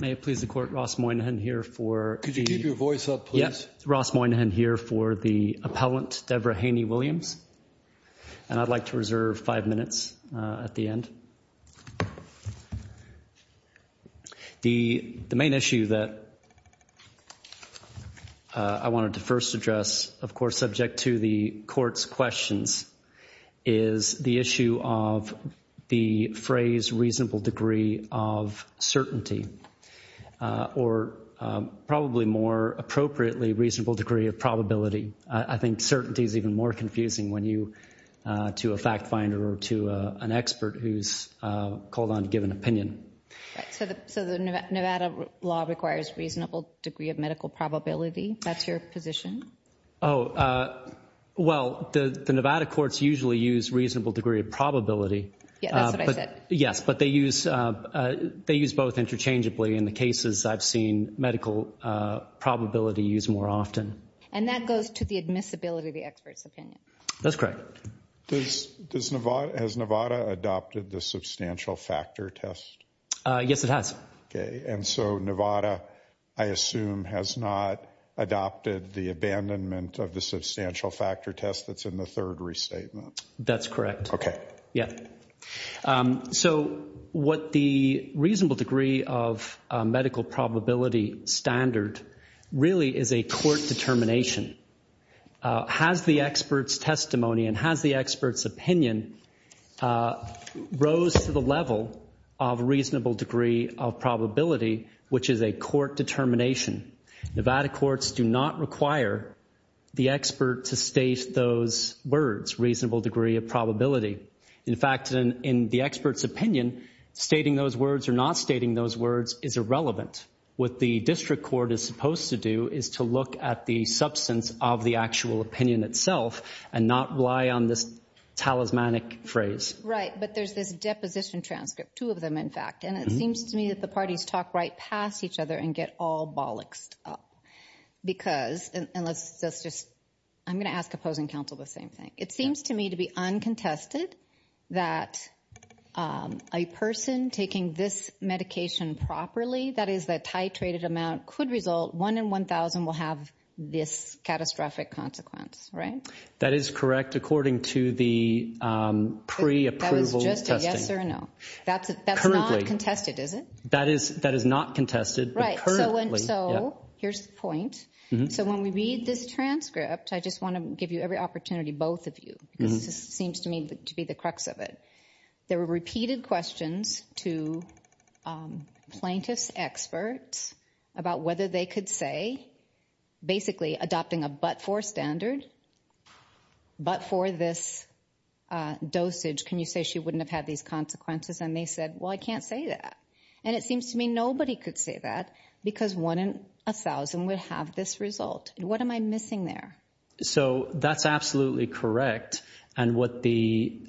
May it please the Court, Ross Moynihan here for... Could you keep your voice up, please? Yes, Ross Moynihan here for the appellant, Debra Haney-Williams. And I'd like to reserve five minutes at the end. The main issue that I wanted to first address, of course, subject to the Court's questions, is the issue of the phrase reasonable degree of certainty, or probably more appropriately, reasonable degree of probability. I think certainty is even more confusing to a fact finder or to an expert who's called on to give an opinion. So the Nevada law requires reasonable degree of medical probability? That's your position? Oh, well, the Nevada courts usually use reasonable degree of probability. Yeah, that's what I said. Yes, but they use both interchangeably in the cases I've seen medical probability used more often. And that goes to the admissibility of the expert's opinion? That's correct. Has Nevada adopted the substantial factor test? Yes, it has. Okay, and so Nevada, I assume, has not adopted the abandonment of the substantial factor test that's in the third restatement? That's correct. Okay. So what the reasonable degree of medical probability standard really is a court determination. Has the expert's testimony and has the expert's opinion rose to the level of reasonable degree of probability, which is a court determination? Nevada courts do not require the expert to state those words, reasonable degree of probability. In fact, in the expert's opinion, stating those words or not stating those words is irrelevant. What the district court is supposed to do is to look at the substance of the actual opinion itself and not rely on this talismanic phrase. Right, but there's this deposition transcript, two of them, in fact, and it seems to me that the parties talk right past each other and get all bollocksed up because, and let's just, I'm going to ask opposing counsel the same thing. It seems to me to be uncontested that a person taking this medication properly, that is the titrated amount, could result, one in 1,000 will have this catastrophic consequence, right? That is correct according to the pre-approval testing. That was just a yes or a no. That's not contested, is it? That is not contested. Right, so here's the point. So when we read this transcript, I just want to give you every opportunity, both of you, because this seems to me to be the crux of it. There were repeated questions to plaintiff's experts about whether they could say, basically adopting a but-for standard, but for this dosage, can you say she wouldn't have had these consequences? And they said, well, I can't say that. And it seems to me nobody could say that because one in 1,000 would have this result. What am I missing there? So that's absolutely correct. And what the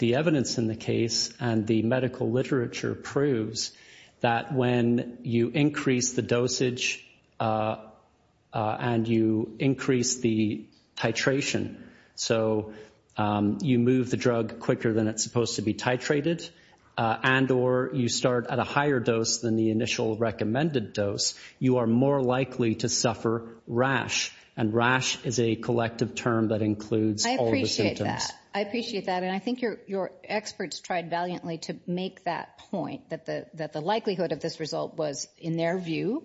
evidence in the case and the medical literature proves, that when you increase the dosage and you increase the titration, so you move the drug quicker than it's supposed to be titrated and or you start at a higher dose than the initial recommended dose, you are more likely to suffer rash. And rash is a collective term that includes all the symptoms. I appreciate that. I appreciate that. And I think your experts tried valiantly to make that point, that the likelihood of this result was, in their view,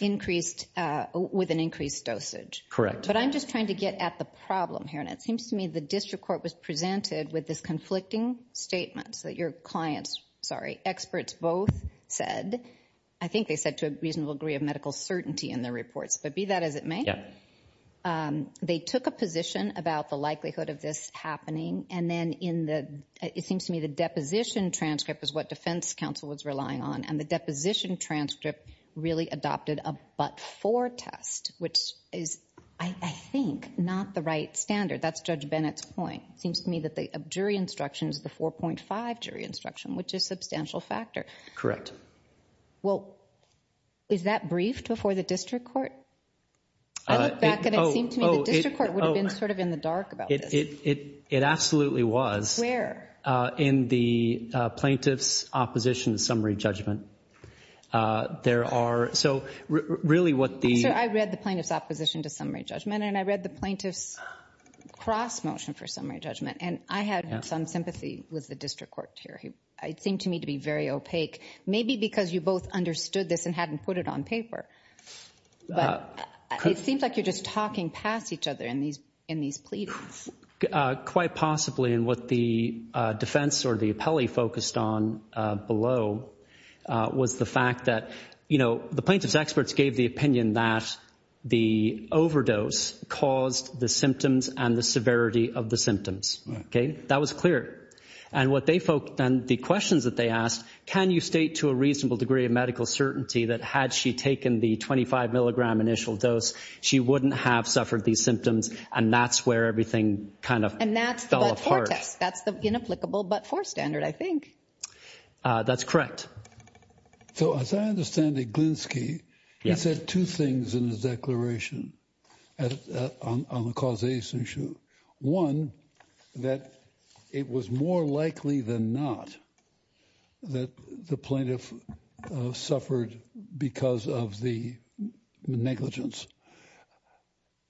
with an increased dosage. Correct. But I'm just trying to get at the problem here. And it seems to me the district court was presented with this conflicting statement that your clients, sorry, experts both said. I think they said to a reasonable degree of medical certainty in their reports. But be that as it may, they took a position about the likelihood of this happening. And then it seems to me the deposition transcript is what defense counsel was relying on. And the deposition transcript really adopted a but-for test, which is, I think, not the right standard. That's Judge Bennett's point. It seems to me that the jury instruction is the 4.5 jury instruction, which is a substantial factor. Well, is that briefed before the district court? I look back and it seems to me the district court would have been sort of in the dark about this. It absolutely was. Where? In the plaintiff's opposition summary judgment. There are so really what the Sir, I read the plaintiff's opposition to summary judgment, and I read the plaintiff's cross motion for summary judgment. And I had some sympathy with the district court here. It seemed to me to be very opaque, maybe because you both understood this and hadn't put it on paper. But it seems like you're just talking past each other in these pleadings. Quite possibly. And what the defense or the appellee focused on below was the fact that, you know, the plaintiff's experts gave the opinion that the overdose caused the symptoms and the severity of the symptoms. OK, that was clear. And what they focused on, the questions that they asked, can you state to a reasonable degree of medical certainty that had she taken the 25 milligram initial dose, she wouldn't have suffered these symptoms. And that's where everything kind of fell apart. And that's the but-for test. That's the inapplicable but-for standard, I think. That's correct. So as I understand it, Glinsky, he said two things in his declaration on the causation issue. One, that it was more likely than not that the plaintiff suffered because of the negligence.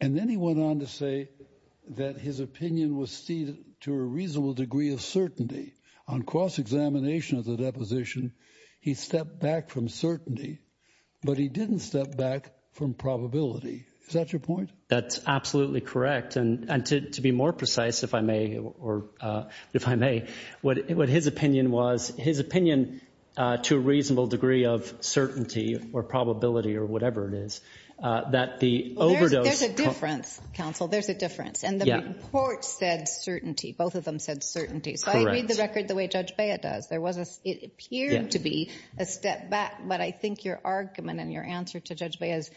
And then he went on to say that his opinion was ceded to a reasonable degree of certainty on cross-examination of the deposition. He stepped back from certainty, but he didn't step back from probability. Is that your point? That's absolutely correct. And to be more precise, if I may, what his opinion was, his opinion to a reasonable degree of certainty or probability or whatever it is, that the overdose. There's a difference, counsel. There's a difference. And the report said certainty. Both of them said certainty. So I read the record the way Judge Bea does. It appeared to be a step back. But I think your argument and your answer to Judge Bea is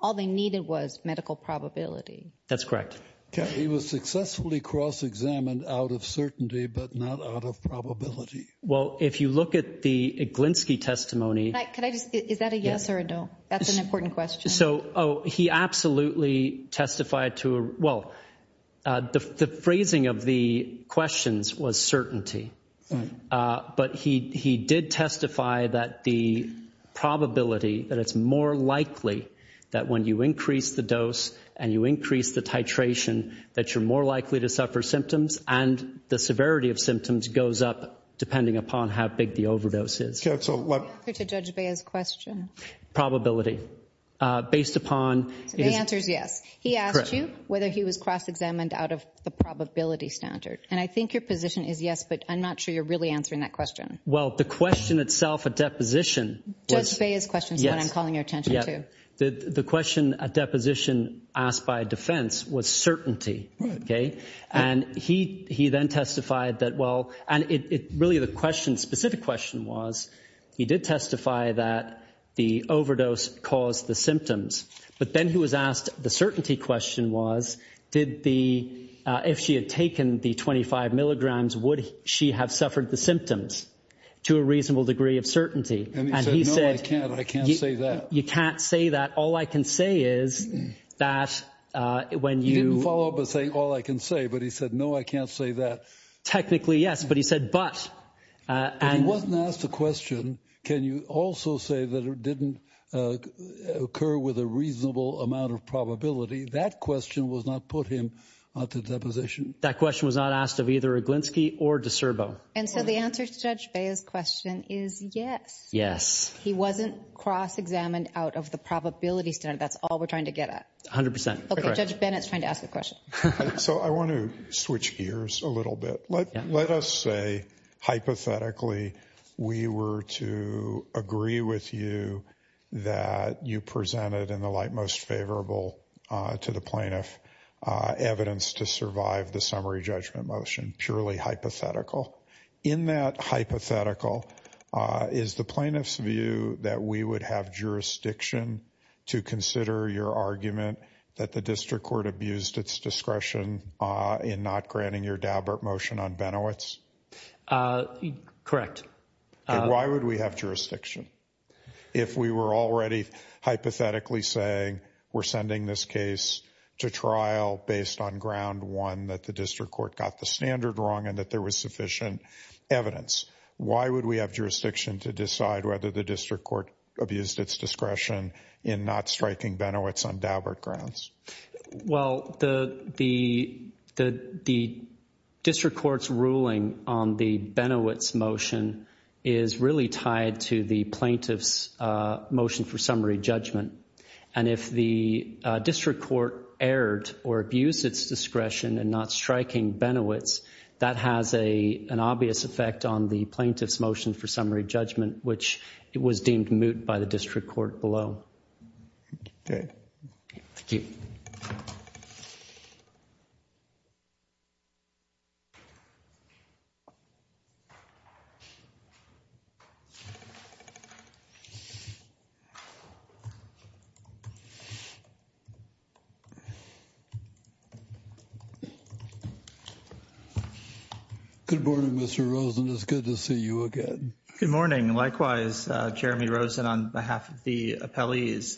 all they needed was medical probability. That's correct. He was successfully cross-examined out of certainty but not out of probability. Well, if you look at the Glinsky testimony. Is that a yes or a no? That's an important question. So, oh, he absolutely testified to a, well, the phrasing of the questions was certainty. But he did testify that the probability that it's more likely that when you increase the dose and you increase the titration that you're more likely to suffer symptoms and the severity of symptoms goes up depending upon how big the overdose is. Counsel. To Judge Bea's question. Probability based upon. The answer is yes. He asked you whether he was cross-examined out of the probability standard. And I think your position is yes, but I'm not sure you're really answering that question. Well, the question itself, a deposition. Judge Bea's question is the one I'm calling your attention to. The question, a deposition asked by defense was certainty. Okay. And he then testified that, well, and really the question, specific question was, he did testify that the overdose caused the symptoms. But then he was asked the certainty question was, did the, if she had taken the 25 milligrams, would she have suffered the symptoms to a reasonable degree of certainty? And he said. No, I can't. I can't say that. You can't say that. All I can say is that when you. He didn't follow up with saying all I can say, but he said, no, I can't say that. Technically, yes. But he said, but. And he wasn't asked a question. Can you also say that it didn't occur with a reasonable amount of probability? That question was not put him to deposition. That question was not asked of either a Glinski or DiCerbo. And so the answer to Judge Bea's question is yes. Yes. He wasn't cross-examined out of the probability standard. That's all we're trying to get at. A hundred percent. Judge Bennett's trying to ask a question. So I want to switch gears a little bit. Let us say hypothetically we were to agree with you that you presented in the light most favorable to the plaintiff evidence to survive the summary judgment motion. In that hypothetical is the plaintiff's view that we would have jurisdiction to consider your argument that the district court abused its discretion in not granting your Daubert motion on Benowitz. Correct. Why would we have jurisdiction? If we were already hypothetically saying we're sending this case to trial based on ground one that the district court got the standard wrong and that there was sufficient evidence. Why would we have jurisdiction to decide whether the district court abused its discretion in not striking Benowitz on Daubert grounds? Well, the district court's ruling on the Benowitz motion is really tied to the plaintiff's motion for summary judgment. And if the district court erred or abused its discretion in not striking Benowitz, that has an obvious effect on the plaintiff's motion for summary judgment, which was deemed moot by the district court below. Okay. Thank you. Good morning, Mr. Rosen. It's good to see you again. Good morning. Likewise, Jeremy Rosen, on behalf of the appellees,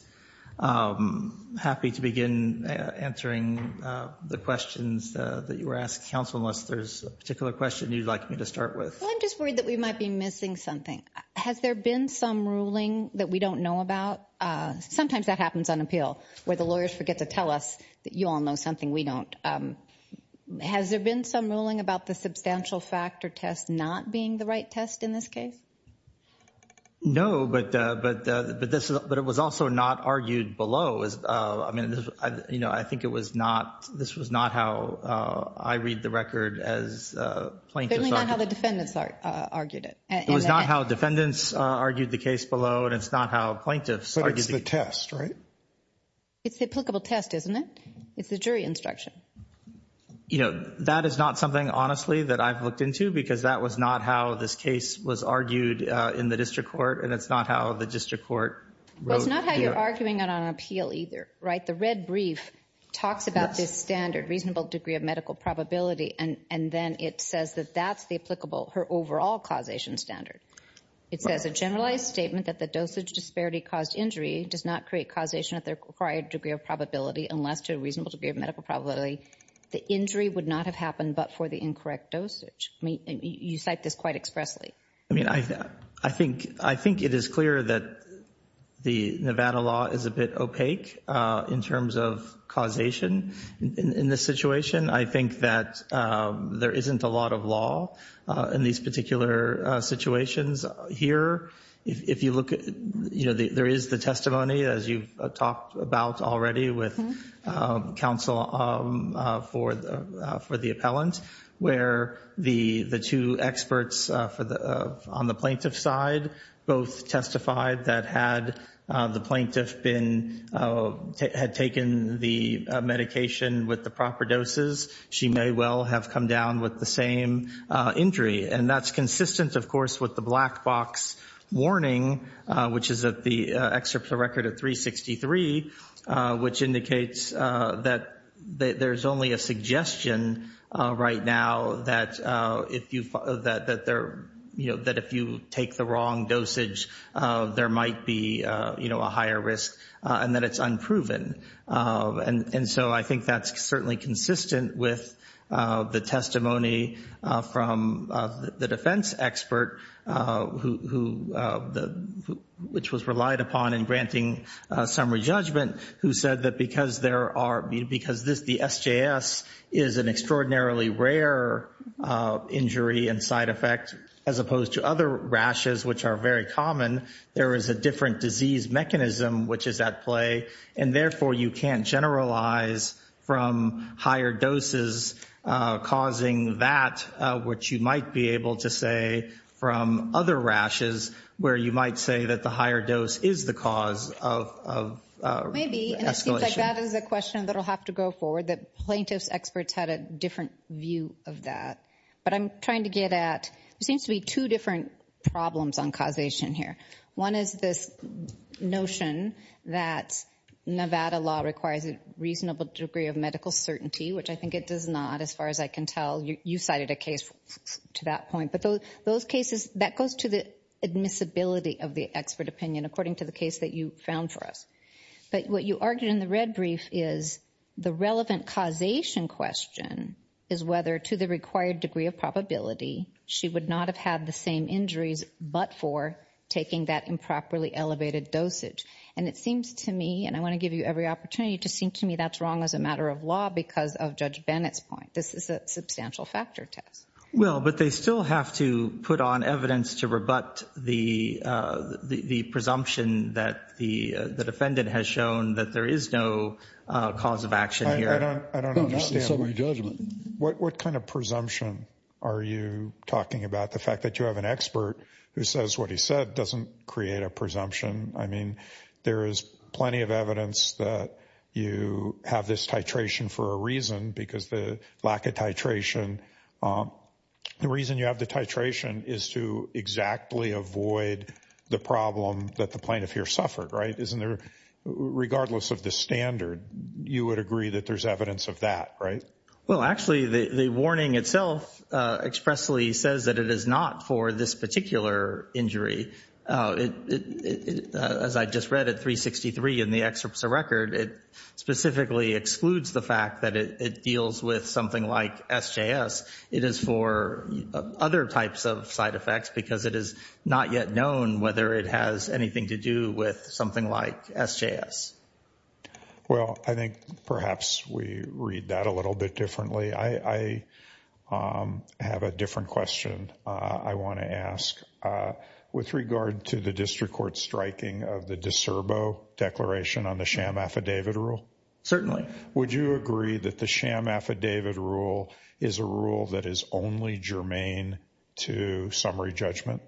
happy to begin answering the questions that you were asked. Counsel, unless there's a particular question you'd like me to start with. I'm just worried that we might be missing something. Has there been some ruling that we don't know about? Sometimes that happens on appeal where the lawyers forget to tell us that you all know something we don't. Has there been some ruling about the substantial factor test not being the right test in this case? No, but it was also not argued below. I mean, you know, I think this was not how I read the record as plaintiffs argued it. Certainly not how the defendants argued it. It was not how defendants argued the case below, and it's not how plaintiffs argued it. But it's the test, right? It's the applicable test, isn't it? It's the jury instruction. You know, that is not something, honestly, that I've looked into because that was not how this case was argued in the district court, and it's not how the district court wrote. Well, it's not how you're arguing it on appeal either, right? The red brief talks about this standard, reasonable degree of medical probability, and then it says that that's the applicable, her overall causation standard. It says a generalized statement that the dosage disparity caused injury does not create causation at the required degree of probability unless to a reasonable degree of medical probability. The injury would not have happened but for the incorrect dosage. You cite this quite expressly. I mean, I think it is clear that the Nevada law is a bit opaque in terms of causation in this situation. I think that there isn't a lot of law in these particular situations here. If you look at, you know, there is the testimony, as you've talked about already with counsel for the appellant, where the two experts on the plaintiff's side both testified that had the plaintiff had taken the medication with the proper doses, she may well have come down with the same injury, and that's consistent, of course, with the black box warning, which is that the excerpt of record of 363, which indicates that there's only a suggestion right now that if you take the wrong dosage, there might be, you know, a higher risk and that it's unproven. And so I think that's certainly consistent with the testimony from the defense expert, which was relied upon in granting summary judgment, who said that because the SJS is an extraordinarily rare injury and side effect as opposed to other rashes, which are very common, there is a different disease mechanism which is at play. And therefore, you can't generalize from higher doses causing that, which you might be able to say from other rashes, where you might say that the higher dose is the cause of escalation. Maybe, and it seems like that is a question that will have to go forward, that plaintiff's experts had a different view of that. But I'm trying to get at, there seems to be two different problems on causation here. One is this notion that Nevada law requires a reasonable degree of medical certainty, which I think it does not as far as I can tell. You cited a case to that point. But those cases, that goes to the admissibility of the expert opinion, according to the case that you found for us. But what you argued in the red brief is the relevant causation question is whether to the required degree of probability, she would not have had the same injuries but for taking that improperly elevated dosage. And it seems to me, and I want to give you every opportunity to seem to me that's wrong as a matter of law because of Judge Bennett's point. This is a substantial factor test. Well, but they still have to put on evidence to rebut the presumption that the defendant has shown that there is no cause of action here. What kind of presumption are you talking about? The fact that you have an expert who says what he said doesn't create a presumption. I mean, there is plenty of evidence that you have this titration for a reason because the lack of titration. The reason you have the titration is to exactly avoid the problem that the plaintiff here suffered. Right. Isn't there, regardless of the standard, you would agree that there's evidence of that, right? Well, actually, the warning itself expressly says that it is not for this particular injury. As I just read it, 363 in the excerpts of record, it specifically excludes the fact that it deals with something like SJS. It is for other types of side effects because it is not yet known whether it has anything to do with something like SJS. Well, I think perhaps we read that a little bit differently. I have a different question I want to ask with regard to the district court striking of the discerbo declaration on the sham affidavit rule. Certainly. Would you agree that the sham affidavit rule is a rule that is only germane to summary judgment?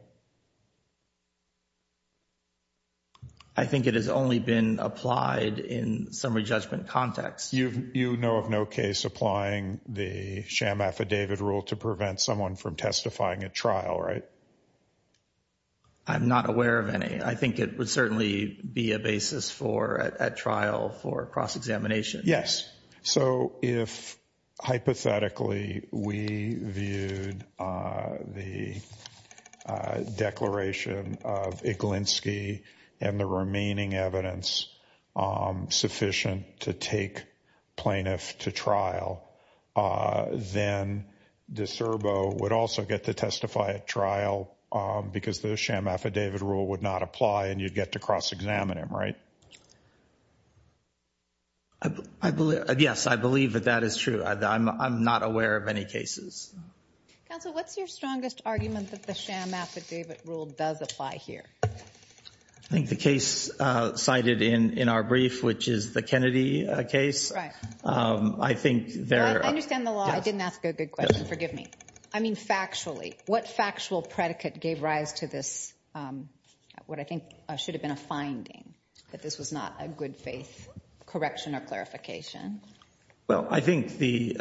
I think it has only been applied in summary judgment context. You know of no case applying the sham affidavit rule to prevent someone from testifying at trial, right? I'm not aware of any. I think it would certainly be a basis for a trial for cross-examination. Yes. So if hypothetically we viewed the declaration of Iglinski and the remaining evidence sufficient to take plaintiff to trial, then discerbo would also get to testify at trial because the sham affidavit rule would not apply and you'd get to cross-examine him, right? Yes, I believe that that is true. I'm not aware of any cases. Counsel, what's your strongest argument that the sham affidavit rule does apply here? I think the case cited in our brief, which is the Kennedy case. I understand the law. I didn't ask a good question. Forgive me. I mean factually, what factual predicate gave rise to this, what I think should have been a finding, that this was not a good faith correction or clarification? Well, I think the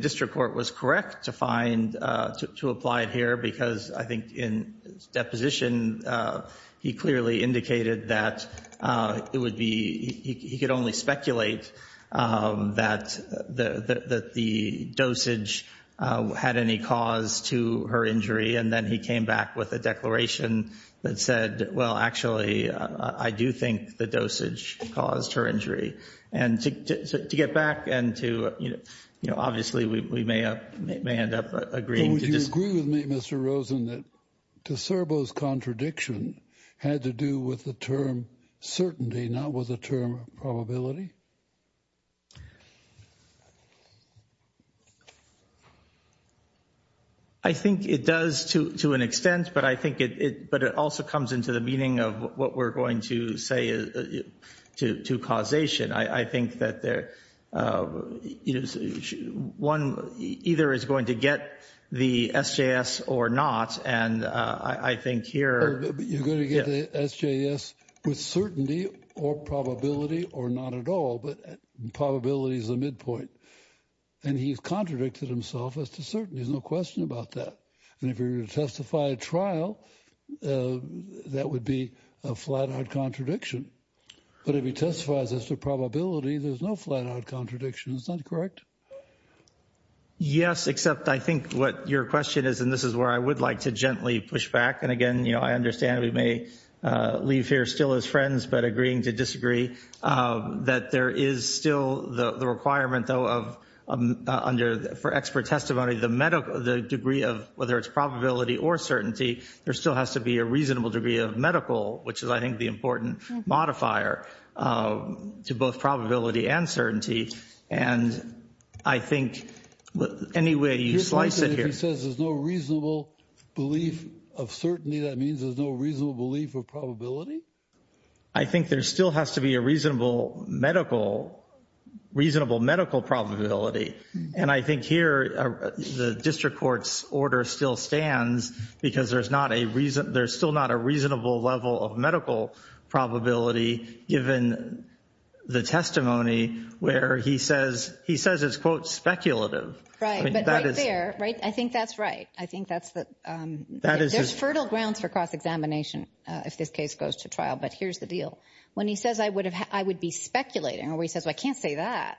district court was correct to find, to apply it here because I think in deposition he clearly indicated that it would be, he could only speculate that the dosage had any cause to her injury and then he came back with a declaration that said, well, actually, I do think the dosage caused her injury. And to get back and to, you know, obviously we may end up agreeing. Would you agree with me, Mr. Rosen, that discerbo's contradiction had to do with the term certainty, not with the term probability? I think it does to an extent, but I think it, but it also comes into the meaning of what we're going to say to causation. I think that there, you know, one either is going to get the SJS or not. And I think here you're going to get SJS with certainty or probability or not at all, but probability is a midpoint. And he's contradicted himself as to certain there's no question about that. And if you're going to testify at trial, that would be a flat out contradiction. But if he testifies as to probability, there's no flat out contradiction. It's not correct. Yes, except I think what your question is, and this is where I would like to gently push back. And again, you know, I understand we may leave here still as friends, but agreeing to disagree, that there is still the requirement, though, of under for expert testimony, the medical, the degree of whether it's probability or certainty, there still has to be a reasonable degree of medical, which is, I think, the important modifier to both probability and certainty. And I think any way you slice it here. He says there's no reasonable belief of certainty. That means there's no reasonable belief of probability. I think there still has to be a reasonable medical, reasonable medical probability. And I think here the district court's order still stands because there's not a reason. Probability given the testimony where he says he says it's, quote, speculative. Right. But that is there. Right. I think that's right. I think that's that. That is fertile grounds for cross-examination if this case goes to trial. But here's the deal. When he says I would have I would be speculating or he says, I can't say that.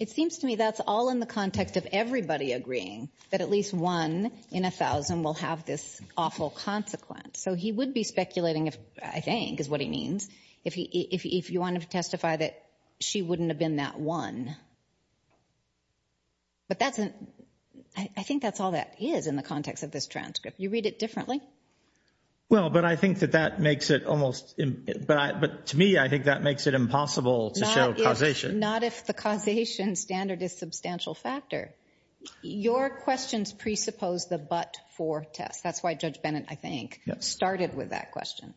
It seems to me that's all in the context of everybody agreeing that at least one in a thousand will have this awful consequence. So he would be speculating if I think is what he means. If he if you want to testify that she wouldn't have been that one. But that's I think that's all that is in the context of this transcript. You read it differently. Well, but I think that that makes it almost. But to me, I think that makes it impossible to show causation. Not if the causation standard is substantial factor. Your questions presuppose the but for test. That's why Judge Bennett, I think, started with that question.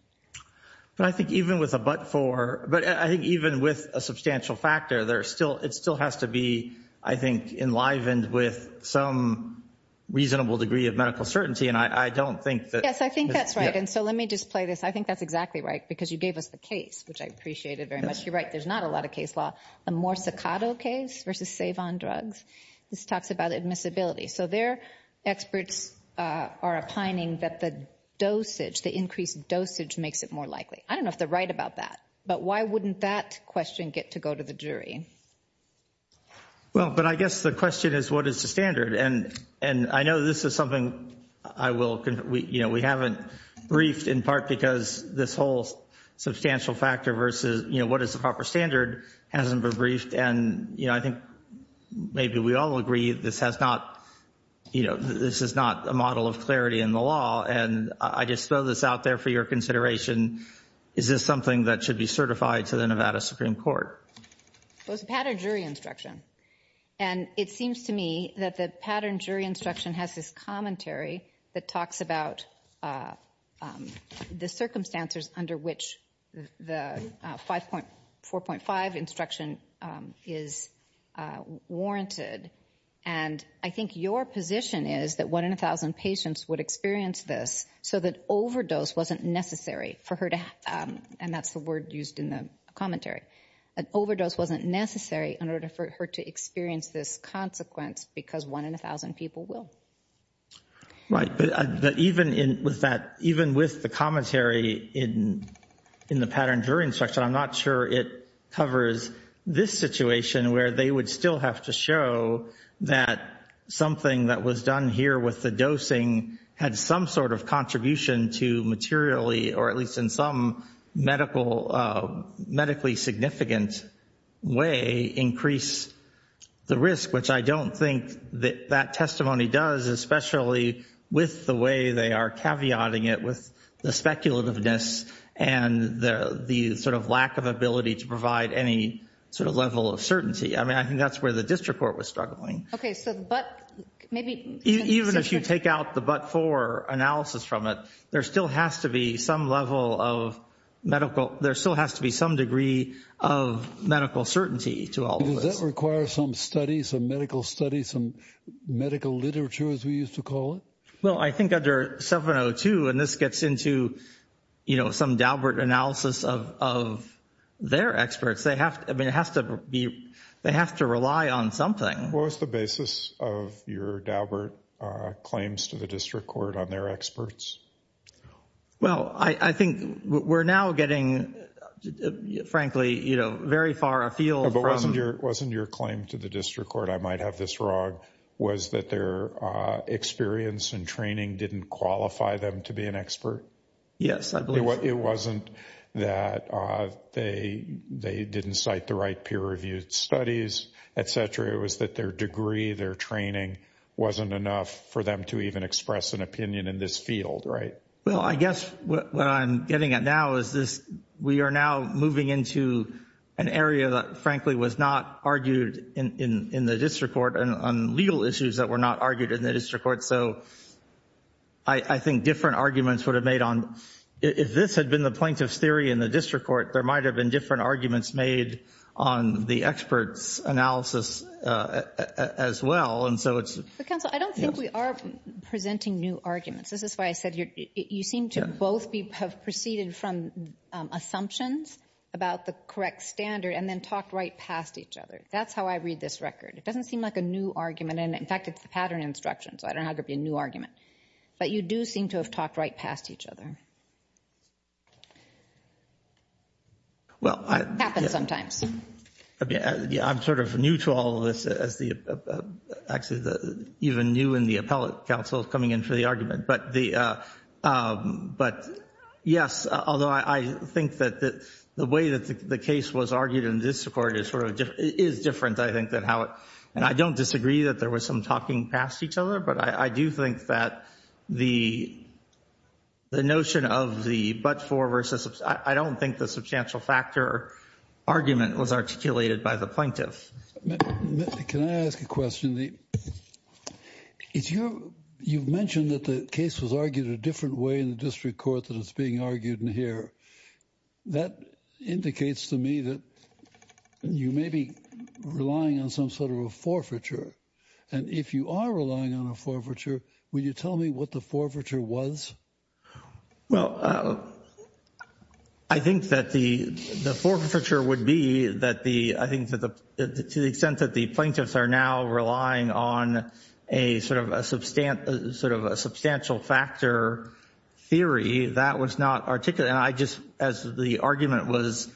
But I think even with a but for. But I think even with a substantial factor, there are still it still has to be, I think, enlivened with some reasonable degree of medical certainty. And I don't think that. Yes, I think that's right. And so let me just play this. I think that's exactly right, because you gave us the case, which I appreciate it very much. You're right. There's not a lot of case law. A more staccato case versus save on drugs. This talks about admissibility. So they're experts are opining that the dosage, the increased dosage makes it more likely. I don't know if they're right about that. But why wouldn't that question get to go to the jury? Well, but I guess the question is, what is the standard? And I know this is something I will. You know, we haven't briefed in part because this whole substantial factor versus, you know, what is the proper standard hasn't been briefed. And, you know, I think maybe we all agree this has not, you know, this is not a model of clarity in the law. And I just throw this out there for your consideration. Is this something that should be certified to the Nevada Supreme Court? It was a pattern jury instruction. And it seems to me that the pattern jury instruction has this commentary that talks about the circumstances under which the 5.4.5 instruction is warranted. And I think your position is that one in a thousand patients would experience this so that overdose wasn't necessary for her. And that's the word used in the commentary. An overdose wasn't necessary in order for her to experience this consequence because one in a thousand people will. Right, but even with that, even with the commentary in the pattern jury instruction, I'm not sure it covers this situation where they would still have to show that something that was done here with the dosing had some sort of contribution to materially or at least in some medically significant way increase the risk, which I don't think that testimony does, especially with the way they are caveating it with the speculativeness and the sort of lack of ability to provide any sort of level of certainty. I mean, I think that's where the district court was struggling. Even if you take out the but-for analysis from it, there still has to be some level of medical, there still has to be some degree of medical certainty to all of this. Does that require some studies, some medical studies, some medical literature, as we used to call it? Well, I think under 702, and this gets into, you know, some Dalbert analysis of their experts, they have to rely on something. What was the basis of your Dalbert claims to the district court on their experts? Well, I think we're now getting, frankly, you know, very far afield. But wasn't your claim to the district court, I might have this wrong, was that their experience and training didn't qualify them to be an expert? Yes, I believe so. It wasn't that they didn't cite the right peer-reviewed studies, et cetera. It was that their degree, their training wasn't enough for them to even express an opinion in this field, right? Well, I guess what I'm getting at now is we are now moving into an area that, frankly, was not argued in the district court on legal issues that were not argued in the district court. So I think different arguments would have made on, if this had been the plaintiff's theory in the district court, there might have been different arguments made on the experts' analysis as well. But, counsel, I don't think we are presenting new arguments. This is why I said you seem to both have proceeded from assumptions about the correct standard and then talked right past each other. That's how I read this record. It doesn't seem like a new argument. In fact, it's the pattern instruction, so I don't know how it could be a new argument. But you do seem to have talked right past each other. It happens sometimes. I'm sort of new to all of this, actually even new in the appellate counsel coming in for the argument. But, yes, although I think that the way that the case was argued in the district court is different, I think, and I don't disagree that there was some talking past each other, but I do think that the notion of the but-for versus I don't think the substantial factor argument was articulated by the plaintiff. Can I ask a question? You mentioned that the case was argued a different way in the district court than it's being argued in here. That indicates to me that you may be relying on some sort of a forfeiture. And if you are relying on a forfeiture, will you tell me what the forfeiture was? Well, I think that the forfeiture would be that the I think to the extent that the plaintiffs are now relying on a sort of a substantial factor theory, that was not articulated. And I just as the argument was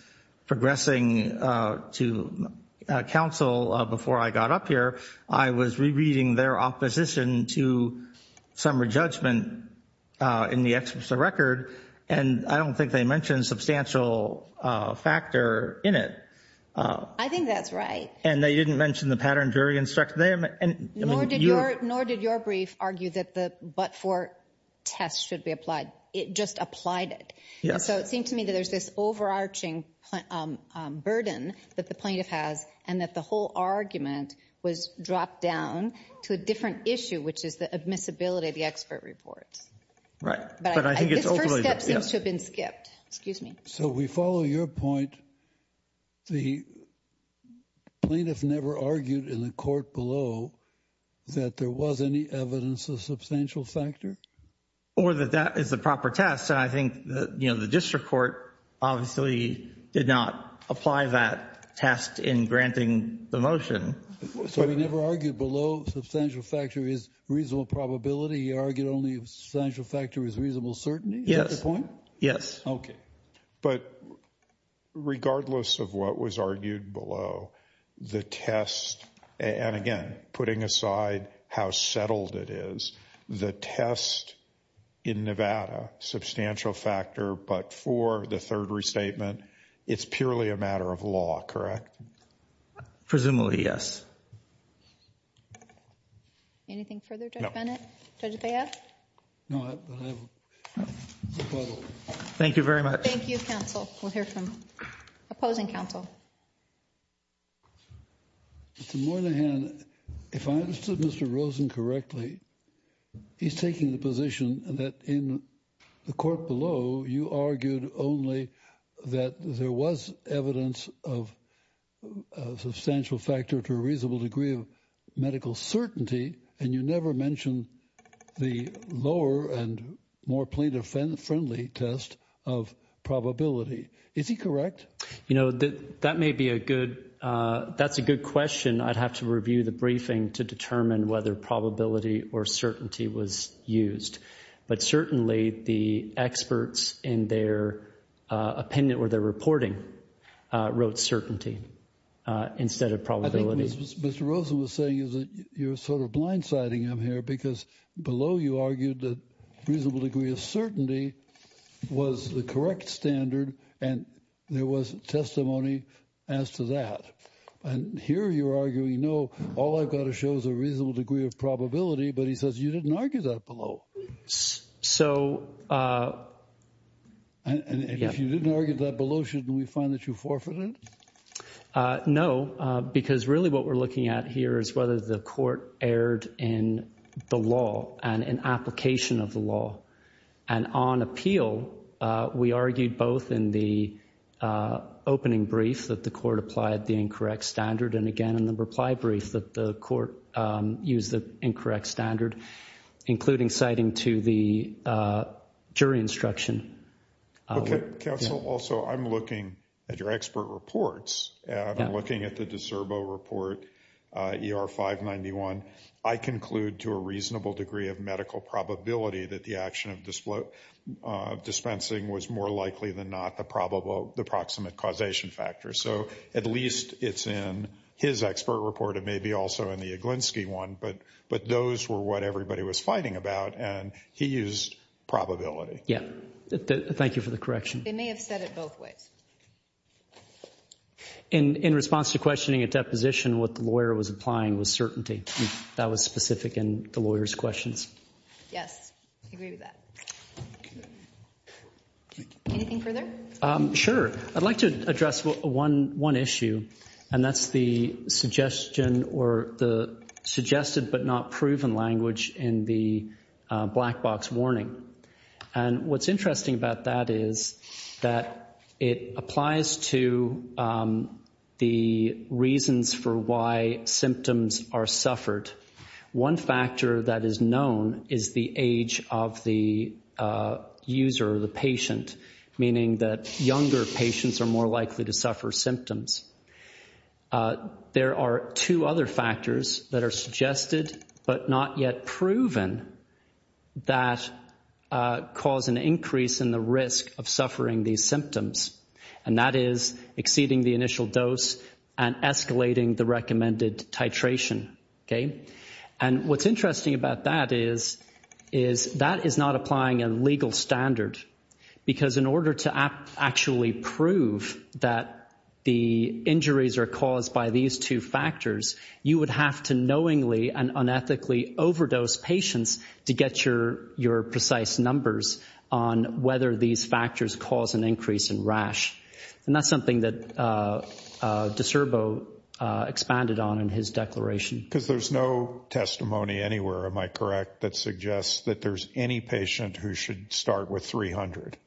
progressing to counsel before I got up here, I was rereading their opposition to some re-judgment in the experts' record, and I don't think they mentioned substantial factor in it. I think that's right. And they didn't mention the pattern jury instruction. Nor did your brief argue that the but-for test should be applied. It just applied it. And so it seemed to me that there's this overarching burden that the plaintiff has and that the whole argument was dropped down to a different issue, which is the admissibility of the expert report. Right. But this first step seems to have been skipped. Excuse me. So we follow your point. The plaintiff never argued in the court below that there was any evidence of substantial factor? Or that that is the proper test. And I think, you know, the district court obviously did not apply that test in granting the motion. So he never argued below substantial factor is reasonable probability? He argued only if substantial factor is reasonable certainty? Yes. Is that his point? Yes. But regardless of what was argued below, the test, and, again, putting aside how settled it is, the test in Nevada, substantial factor but-for, the third restatement, it's purely a matter of law, correct? Presumably, yes. Anything further, Judge Bennett? No. Judge Bethea? No. Thank you very much. Thank you, counsel. We'll hear from opposing counsel. Mr. Moynihan, if I understood Mr. Rosen correctly, he's taking the position that in the court below, you argued only that there was evidence of substantial factor to a reasonable degree of medical certainty, and you never mentioned the lower and more plaintiff-friendly test of probability. Is he correct? You know, that may be a good question. I'd have to review the briefing to determine whether probability or certainty was used. But certainly the experts in their opinion or their reporting wrote certainty instead of probability. What Mr. Rosen was saying is that you're sort of blindsiding him here because below you argued that a reasonable degree of certainty was the correct standard and there was testimony as to that. And here you're arguing, no, all I've got to show is a reasonable degree of probability, but he says you didn't argue that below. So- And if you didn't argue that below, shouldn't we find that you forfeited? No, because really what we're looking at here is whether the court erred in the law and in application of the law. And on appeal, we argued both in the opening brief that the court applied the incorrect standard and again in the reply brief that the court used the incorrect standard, including citing to the jury instruction. Counsel, also, I'm looking at your expert reports. I'm looking at the DeSerbo report, ER 591. I conclude to a reasonable degree of medical probability that the action of dispensing was more likely than not the probable, the proximate causation factor. So at least it's in his expert report. It may be also in the Yaglinski one. But those were what everybody was fighting about, and he used probability. Yeah. Thank you for the correction. They may have said it both ways. In response to questioning a deposition, what the lawyer was applying was certainty. That was specific in the lawyer's questions. Yes. I agree with that. Anything further? Sure. I'd like to address one issue, and that's the suggestion or the suggested but not proven language in the black box warning. And what's interesting about that is that it applies to the reasons for why symptoms are suffered. One factor that is known is the age of the user or the patient, meaning that younger patients are more likely to suffer symptoms. There are two other factors that are suggested but not yet proven that cause an increase in the risk of suffering these symptoms, and that is exceeding the initial dose and escalating the recommended titration. And what's interesting about that is that is not applying a legal standard, because in order to actually prove that the injuries are caused by these two factors, you would have to knowingly and unethically overdose patients to get your precise numbers on whether these factors cause an increase in rash. And that's something that DiCerbo expanded on in his declaration. Because there's no testimony anywhere, am I correct, that suggests that there's any patient who should start with 300?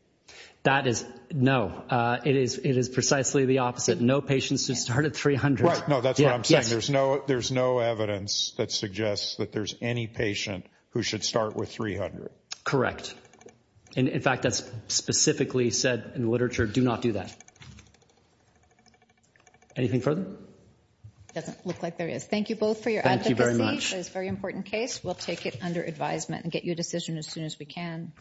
That is no. It is precisely the opposite. No patient should start at 300. Right. No, that's what I'm saying. There's no evidence that suggests that there's any patient who should start with 300. Correct. And, in fact, that's specifically said in the literature, do not do that. Anything further? Doesn't look like there is. Thank you both for your advocacy. Thank you very much. It's a very important case. We'll take it under advisement and get you a decision as soon as we can.